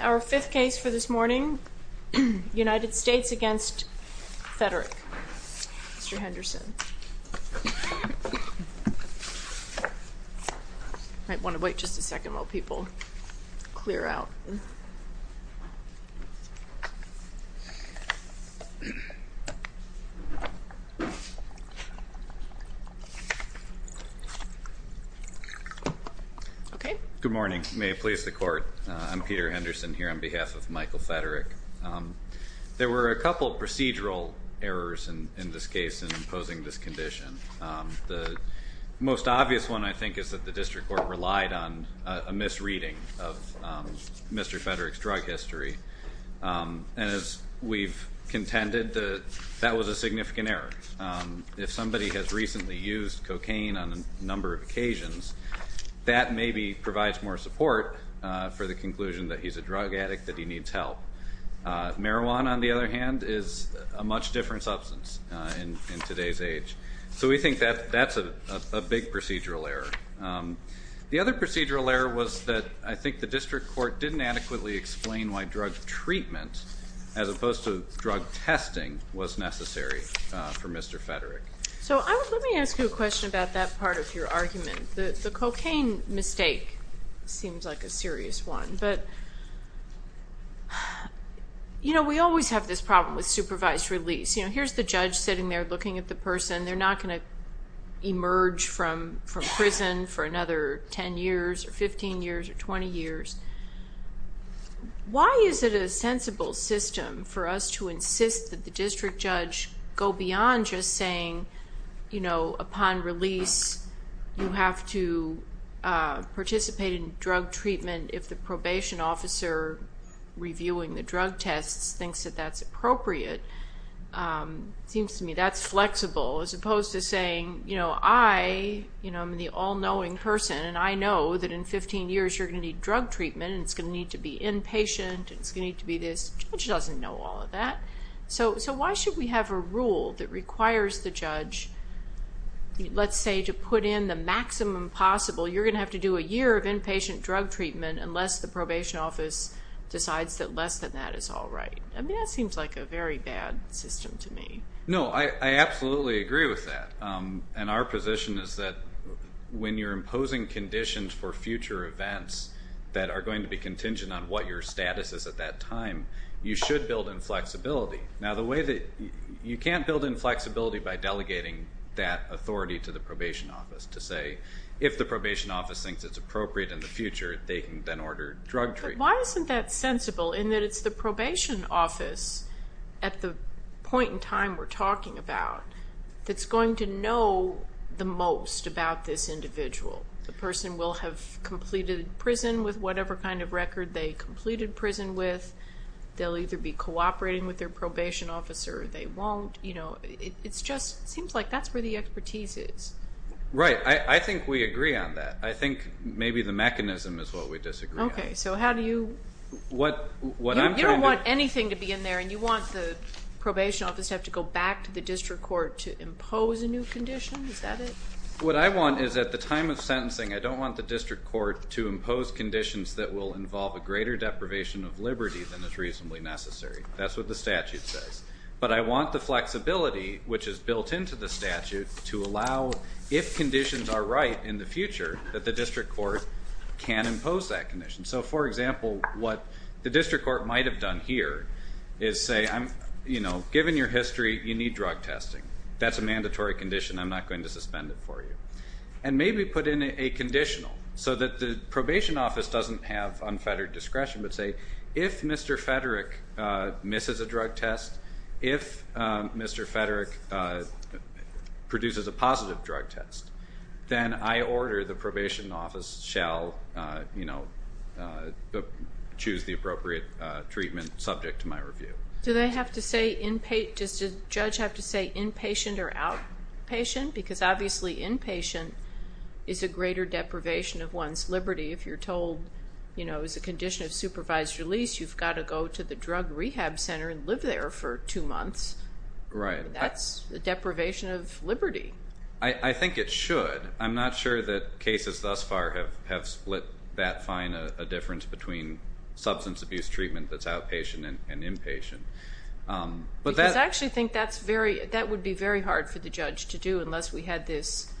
Our fifth case for this morning, United States v. Michael Feterick Good morning. May it please the court, I'm Peter Henderson here on behalf of Michael Feterick. There were a couple of procedural errors in this case in imposing this condition. The most obvious one I think is that the district court relied on a misreading of Mr. Feterick's drug history, and as we've contended, that was a significant error. If somebody has recently used cocaine on a number of occasions, that maybe provides more support for the conclusion that he's a drug addict, that he needs help. Marijuana, on the other hand, is a much different substance in today's age. So we think that that's a big procedural error. The other procedural error was that I think the district court didn't adequately explain why drug treatment, as opposed to drug testing, was necessary for Mr. Feterick. So let me ask you a question about that part of your argument. The cocaine mistake seems like a serious one, but we always have this problem with supervised release. Here's the judge sitting there looking at the person. They're not going to emerge from prison for another 10 years, or 15 years, or 20 years. Why is it a sensible system for us to insist that the district judge go beyond just saying, you know, upon release, you have to participate in drug treatment if the probation officer reviewing the drug tests thinks that that's appropriate? It seems to me that's flexible, as opposed to saying, you know, I, I'm the all-knowing person, and I know that in 15 years you're going to need drug treatment, and it's going to need to be inpatient, and it's going to need to be this. The judge doesn't know all of that. So, so why should we have a rule that requires the judge, let's say, to put in the maximum possible, you're going to have to do a year of inpatient drug treatment unless the probation office decides that less than that is all right. I mean, that seems like a very bad system to me. No, I absolutely agree with that. And our position is that when you're imposing conditions for future events that are going to be contingent on what your status is at that time, you should build in flexibility. Now the way that, you can't build in flexibility by delegating that authority to the probation office to say, if the probation office thinks it's appropriate in the future, they can then order drug treatment. Why isn't that sensible in that it's the probation office at the point in time we're talking about that's going to know the most about this individual? The person will have completed prison with whatever kind of record they completed prison with. They'll either be cooperating with their probation officer or they won't. You know, it's just, it seems like that's where the expertise is. Right. I think we agree on that. I think maybe the mechanism is what we disagree on. Okay. So how do you, you don't want anything to be in there and you want the probation office to have to go back to the district court to impose a new condition? Is that it? What I want is at the time of sentencing, I don't want the district court to impose conditions that will involve a greater deprivation of liberty than is reasonably necessary. That's what the statute says. But I want the flexibility, which is built into the statute, to allow if conditions are right in the future, that the district court can impose that condition. So for example, what the district court might have done here is say, I'm, you know, given your history, you need drug testing. That's a mandatory condition. I'm not going to suspend it for you. And maybe put in a conditional so that the probation office doesn't have unfettered discretion, but say, if Mr. Federick misses a drug test, if Mr. Federick produces a positive drug test, then I order the probation office shall, you know, choose the appropriate treatment subject to my review. Do they have to say, does the judge have to say inpatient or outpatient? Because obviously inpatient is a greater deprivation of one's liberty. If you're told, you know, it's a condition of supervised release, you've got to go to the drug rehab center and live there for two months, that's a deprivation of liberty. I think it should. I'm not sure that cases thus far have split that fine a difference between substance abuse treatment that's outpatient and inpatient. Because I actually think that would be very hard for the judge to do unless we had this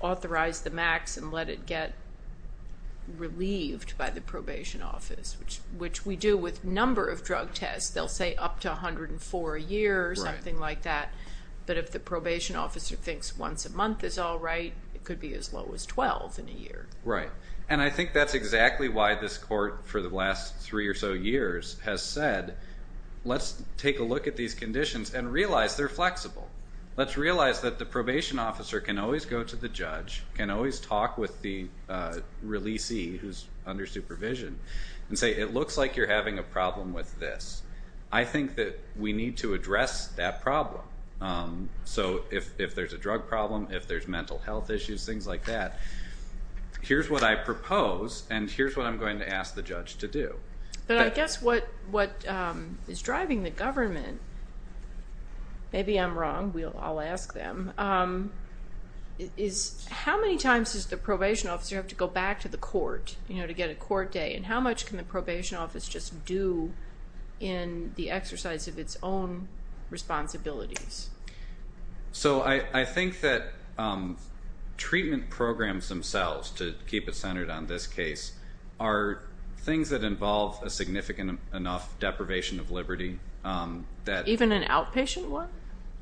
authorize the max and let it get relieved by the probation office, which we do with a number of drug tests. They'll say up to 104 a year or something like that. But if the probation officer thinks once a month is all right, it could be as low as 12 in a year. Right. And I think that's exactly why this court for the last three or so years has said, let's take a look at these conditions and realize they're flexible. Let's realize that the probation officer can always go to the judge, can always talk with the releasee who's under supervision and say, it looks like you're having a problem with this. I think that we need to address that problem. So if there's a drug problem, if there's mental health issues, things like that, here's what I propose and here's what I'm going to ask the judge to do. But I guess what is driving the government, maybe I'm wrong, I'll ask them, is how many times does the probation officer have to go back to the court to get a court day and how much can the probation office just do in the exercise of its own responsibilities? So I think that treatment programs themselves, to keep it centered on this case, are things that involve a significant enough deprivation of liberty. Even an outpatient one?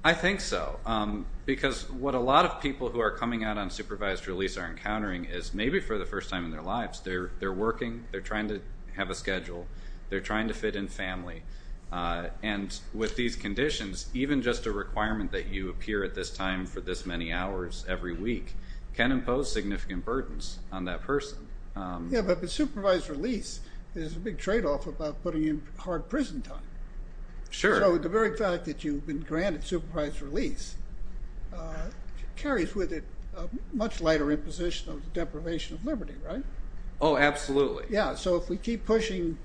I think so. Because what a lot of people who are coming out on supervised release are encountering is maybe for the first time in their lives, they're working, they're trying to have a schedule, they're trying to fit in family. And with these conditions, even just a requirement that you appear at this time for this many hours every week can impose significant burdens on that person. Yeah, but supervised release, there's a big tradeoff about putting in hard prison time. Sure. So the very fact that you've been granted supervised release carries with it a much lighter imposition of deprivation of liberty, right? Oh, absolutely. Yeah, so if we keep pushing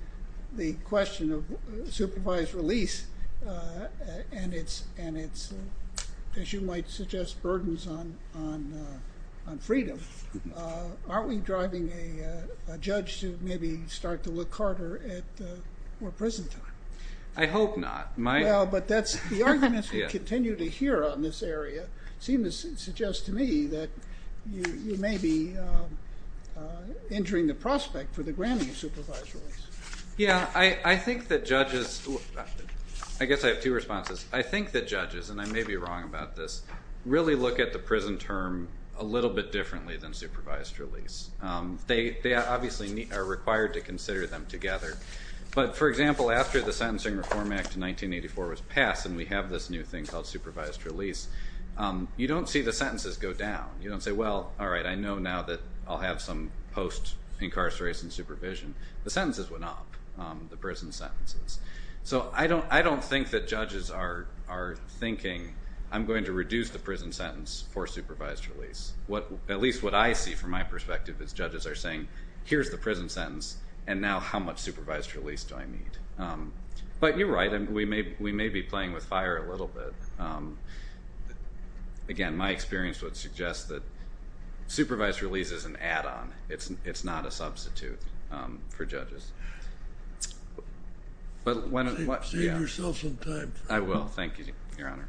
the question of supervised release and its, as you might suggest, burdens on freedom, aren't we driving a judge to maybe start to look harder at more prison time? I hope not. Well, but that's, the arguments we continue to hear on this area seem to suggest to me that you may be injuring the prospect for the granting of supervised release. Yeah, I think that judges, I guess I have two responses. I think that judges, and I may be wrong about this, really look at the prison term a little bit differently than supervised release. They obviously are required to consider them together. But for example, after the Sentencing Reform Act of 1984 was passed and we have this new thing called supervised release, you don't see the sentences go down. You don't say, well, all right, I know now that I'll have some post-incarceration supervision. The sentences went up, the prison sentences. So I don't think that judges are thinking, I'm going to reduce the prison sentence for supervised release. At least what I see from my perspective is judges are saying, here's the prison sentence, and now how much supervised release do I need? But you're right. We may be playing with fire a little bit. Again, my experience would suggest that supervised release is an add-on. It's not a substitute for judges. But when... Save yourself some time. I will. Thank you, Your Honor.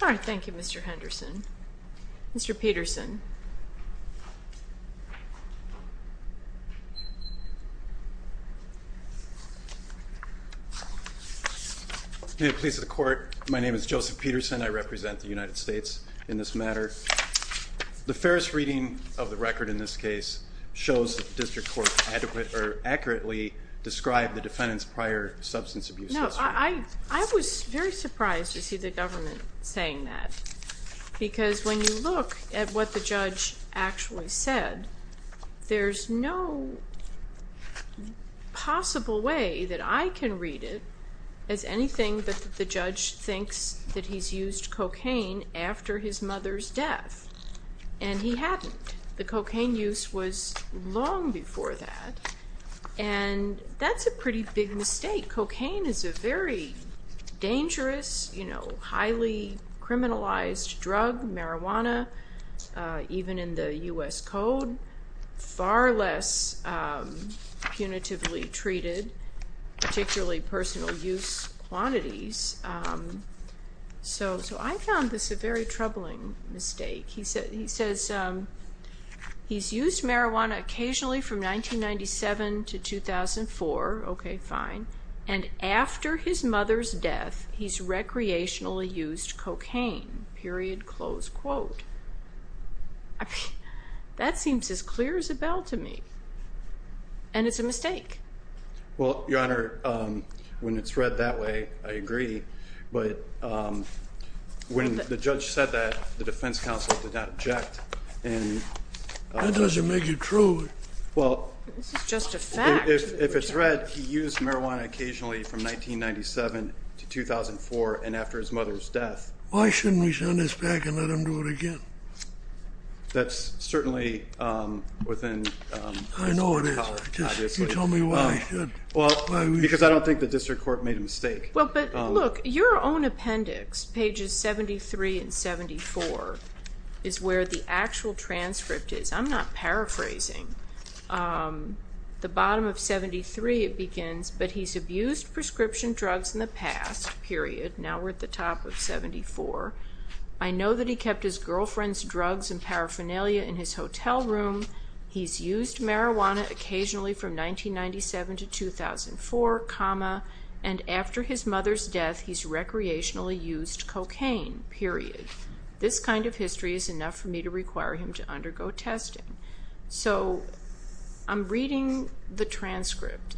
All right. Thank you, Mr. Henderson. Mr. Peterson. May it please the Court, my name is Joseph Peterson. I represent the United States in this matter. The fairest reading of the record in this case shows that the District Court accurately described the defendant's prior substance abuse history. I was very surprised to see the government saying that. Because when you look at what the judge actually said, there's no possible way that I can read it as anything but that the judge thinks that he's used cocaine after his mother's death. And he hadn't. The cocaine use was long before that. And that's a pretty big mistake. Cocaine is a very dangerous, you know, highly criminalized drug, marijuana, even in the U.S. Code. Far less punitively treated, particularly personal use quantities. So I found this a very troubling mistake. He says he's used marijuana occasionally from 1997 to 2004. Okay, fine. And after his mother's death, he's recreationally used cocaine, period, close quote. That seems as clear as a bell to me. And it's a mistake. Well, Your Honor, when it's read that way, I agree. But when the judge said that, the judge did not object. That doesn't make it true. Well, if it's read, he used marijuana occasionally from 1997 to 2004 and after his mother's death. Why shouldn't we send this back and let him do it again? That's certainly within the power, obviously. I know it is. Just tell me why we should. Because I don't think the district court made a mistake. Well, but look, your own appendix, pages 73 and 74, is where the actual transcript is. I'm not paraphrasing. The bottom of 73 it begins, but he's abused prescription drugs in the past, period. Now we're at the top of 74. I know that he kept his girlfriend's drugs and paraphernalia in his hotel room. He's used marijuana occasionally from 1997 to 2004, comma, and after his mother's death, he's recreationally used cocaine, period. This kind of history is enough for me to require him to undergo testing. So I'm reading the transcript.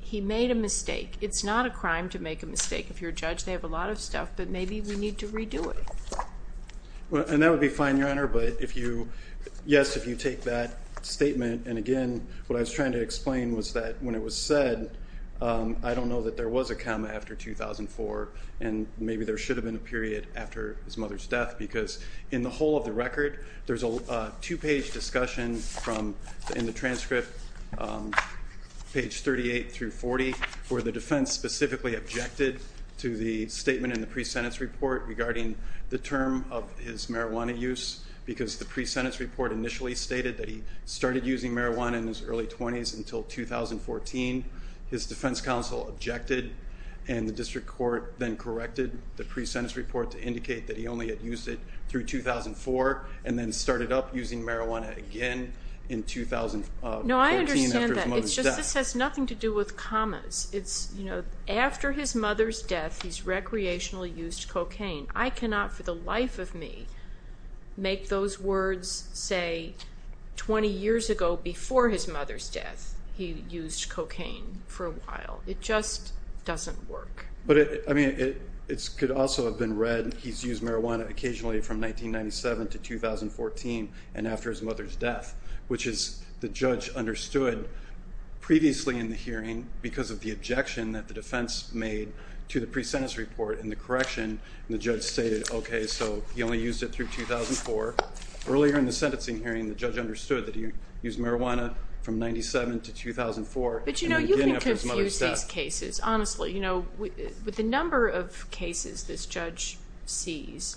He made a mistake. It's not a crime to make a mistake. If you're a judge, they have a lot of stuff, but maybe we need to redo it. And that would be fine, Your Honor, but if you, yes, if you take that statement, and again, what I was trying to explain was that when it was said, I don't know that there was a comma after 2004, and maybe there should have been a period after his mother's death, because in the whole of the record, there's a two-page discussion in the transcript, page 38 through 40, where the defense specifically objected to the statement in the pre-sentence report regarding the term of his marijuana use, because the pre-sentence report initially stated that he started using marijuana in his early 20s until 2014. His defense counsel objected, and the district court then corrected the pre-sentence report to indicate that he only had used it through 2004, and then started up using marijuana again in 2014 after his mother's death. No, I understand that. It's just this has nothing to do with commas. It's, you know, after his mother's death, he's recreationally used cocaine. I cannot, for the life of me, make those words say 20 years ago, before his mother's death, he used cocaine for a while. It just doesn't work. But it, I mean, it could also have been read, he's used marijuana occasionally from 1997 to 2014, and after his mother's death, which is, the judge understood previously in the hearing, because of the objection that the defense made to the pre-sentence report in the correction, and the judge stated, okay, so he only used it through 2004. Earlier in the sentencing hearing, the judge understood that he used marijuana from 1997 to 2004. But, you know, you can confuse these cases. Honestly, you know, with the number of cases this judge sees,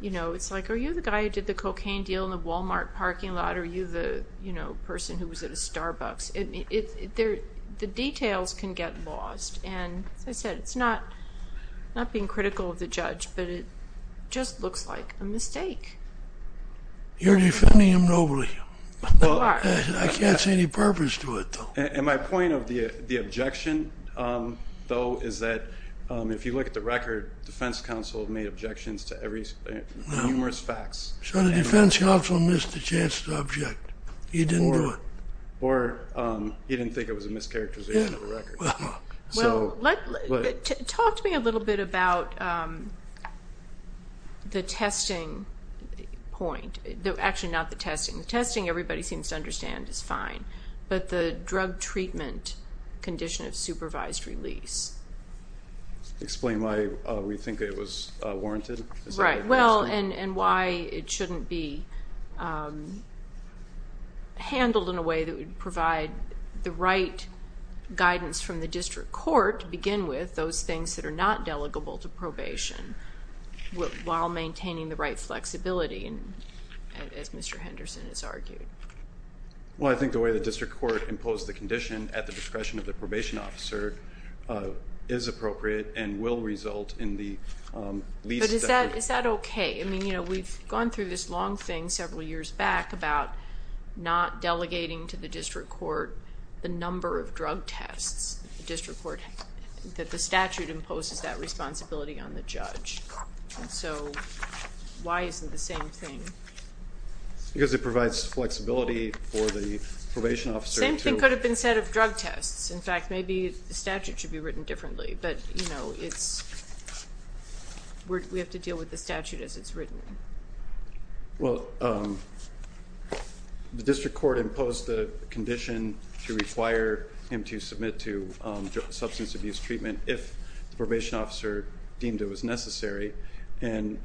you know, it's like, are you the guy who did the cocaine deal in the Walmart parking lot? Are you the, you know, person who was at a Starbucks? The details can get lost, and as I said, it's not being critical of the judge, but it just looks like a mistake. You're defending him nobly. You are. I can't see any purpose to it, though. And my point of the objection, though, is that if you look at the record, defense counsel made objections to numerous facts. So the defense counsel missed the chance to object. He didn't do it. Or he didn't think it was a mischaracterization of the record. Well, talk to me a little bit about the testing point. Actually, not the testing. The testing everybody seems to understand is fine, but the drug treatment condition of supervised release. Explain why we think it was warranted. Right. Well, and why it shouldn't be handled in a way that would provide the right guidance from the district court to begin with, those things that are not delegable to probation, while maintaining the right flexibility, as Mr. Henderson has argued. Well, I think the way the district court imposed the condition at the discretion of the probation officer is appropriate and will result in the least Is that okay? I mean, you know, we've gone through this long thing several years back about not delegating to the district court the number of drug tests that the statute imposes that responsibility on the judge. So why isn't the same thing? Because it provides flexibility for the probation officer to The same thing could have been said of drug tests. In fact, maybe the statute should be written differently. But, you know, we have to deal with the statute as it's written. Well, the district court imposed the condition to require him to submit to substance abuse treatment if the probation officer deemed it was necessary. And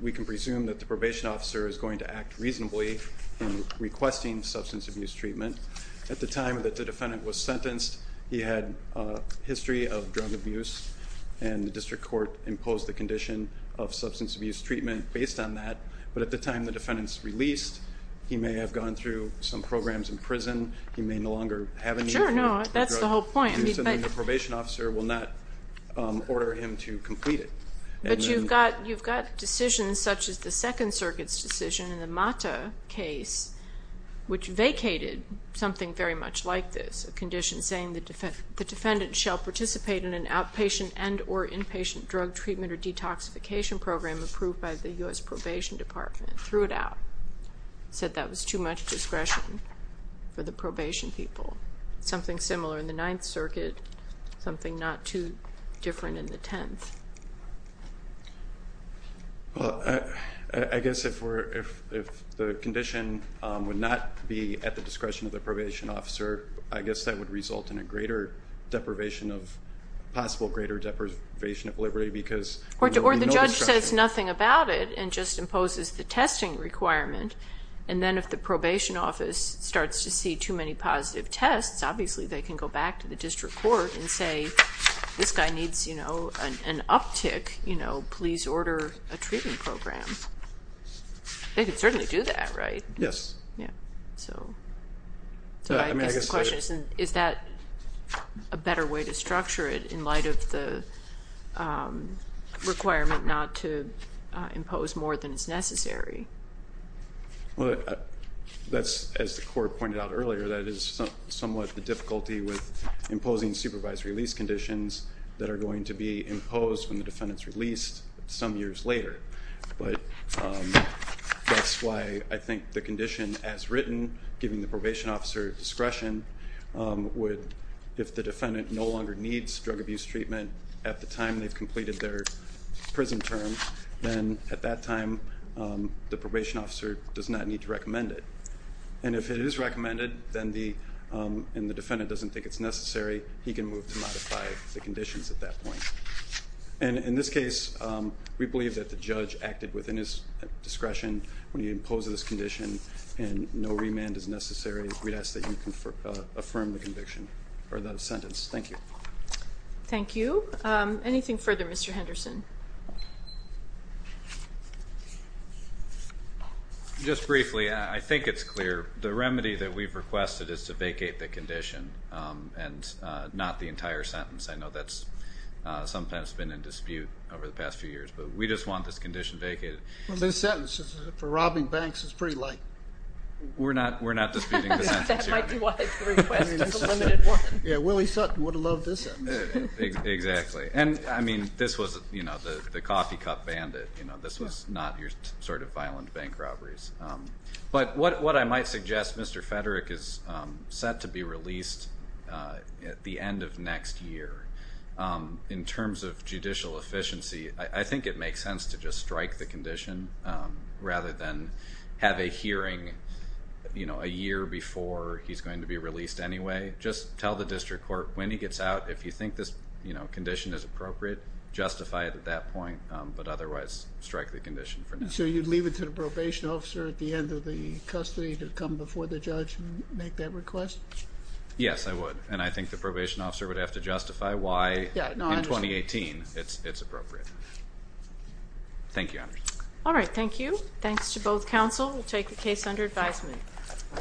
we can presume that the probation officer is going to act reasonably in requesting substance abuse treatment. At the time that the defendant was sentenced, he had a history of drug abuse and the district court imposed the condition of substance abuse treatment based on that. But at the time the defendant's released, he may have gone through some programs in prison. He may no longer have any Sure, no, that's the whole point. The probation officer will not order him to complete it. But you've got decisions such as the Second Circuit's decision in the Mata case, which vacated something very much like this, a condition saying the defendant shall participate in an outpatient and or inpatient drug treatment or detoxification program approved by the U.S. Probation Department. Threw it out. Said that was too much discretion for the probation people. Something similar in the Ninth Circuit. Something not too different in the Tenth. Well, I guess if the condition would not be at the discretion of the probation officer, I guess that would result in a greater deprivation of, possible greater deprivation of liberty because Or the judge says nothing about it and just imposes the testing requirement. And then if the probation office starts to see too many positive tests, obviously they can go back to the district court and say, this guy needs, you know, an uptick. You know, please order a treatment program. They could certainly do that, right? Yes. Yeah. So I guess the question is, is that a better way to structure it in light of the requirement not to impose more than is necessary? Well, that's, as the court pointed out earlier, that is somewhat the difficulty with imposing supervised release conditions that are going to be imposed when the defendant's released some years later. But that's why I think the condition as written, giving the probation officer discretion would, if the defendant no longer needs drug abuse treatment at the time they've completed their prison term, then at that time the probation officer does not need to recommend it. And if it is recommended, then the defendant doesn't think it's necessary. He can move to modify the conditions at that point. And in this case, we believe that the judge acted within his discretion when he imposed this condition and no remand is necessary. We'd ask that you affirm the conviction or the sentence. Thank you. Thank you. Anything further, Mr. Henderson? Just briefly, I think it's clear the remedy that we've requested is to vacate the condition and not the entire sentence. I know that's sometimes been in dispute over the past few years, but we just want this condition vacated. Well, this sentence for robbing banks is pretty light. We're not disputing the sentence. That might be why it's requested. Yeah, Willie Sutton would have loved this sentence. Exactly. And I mean, this was, you know, the coffee cup bandit. You know, this was not your sort of violent bank robberies. But what I might suggest, Mr. Federick is set to be released at the end of next year. In terms of judicial efficiency, I think it makes sense to just strike the condition rather than have a hearing, you know, a year before he's going to be released anyway. Just tell the district court when he gets out, if you think this, you know, condition is appropriate, justify it at that point, but otherwise strike the condition for now. So you'd leave it to the probation officer at the end of the custody to come before the judge and make that request? Yes, I would. And I think the probation officer would have to justify why in 2018 it's appropriate. Thank you. All right. Thank you. Thanks to both counsel. We'll take the case under advisement.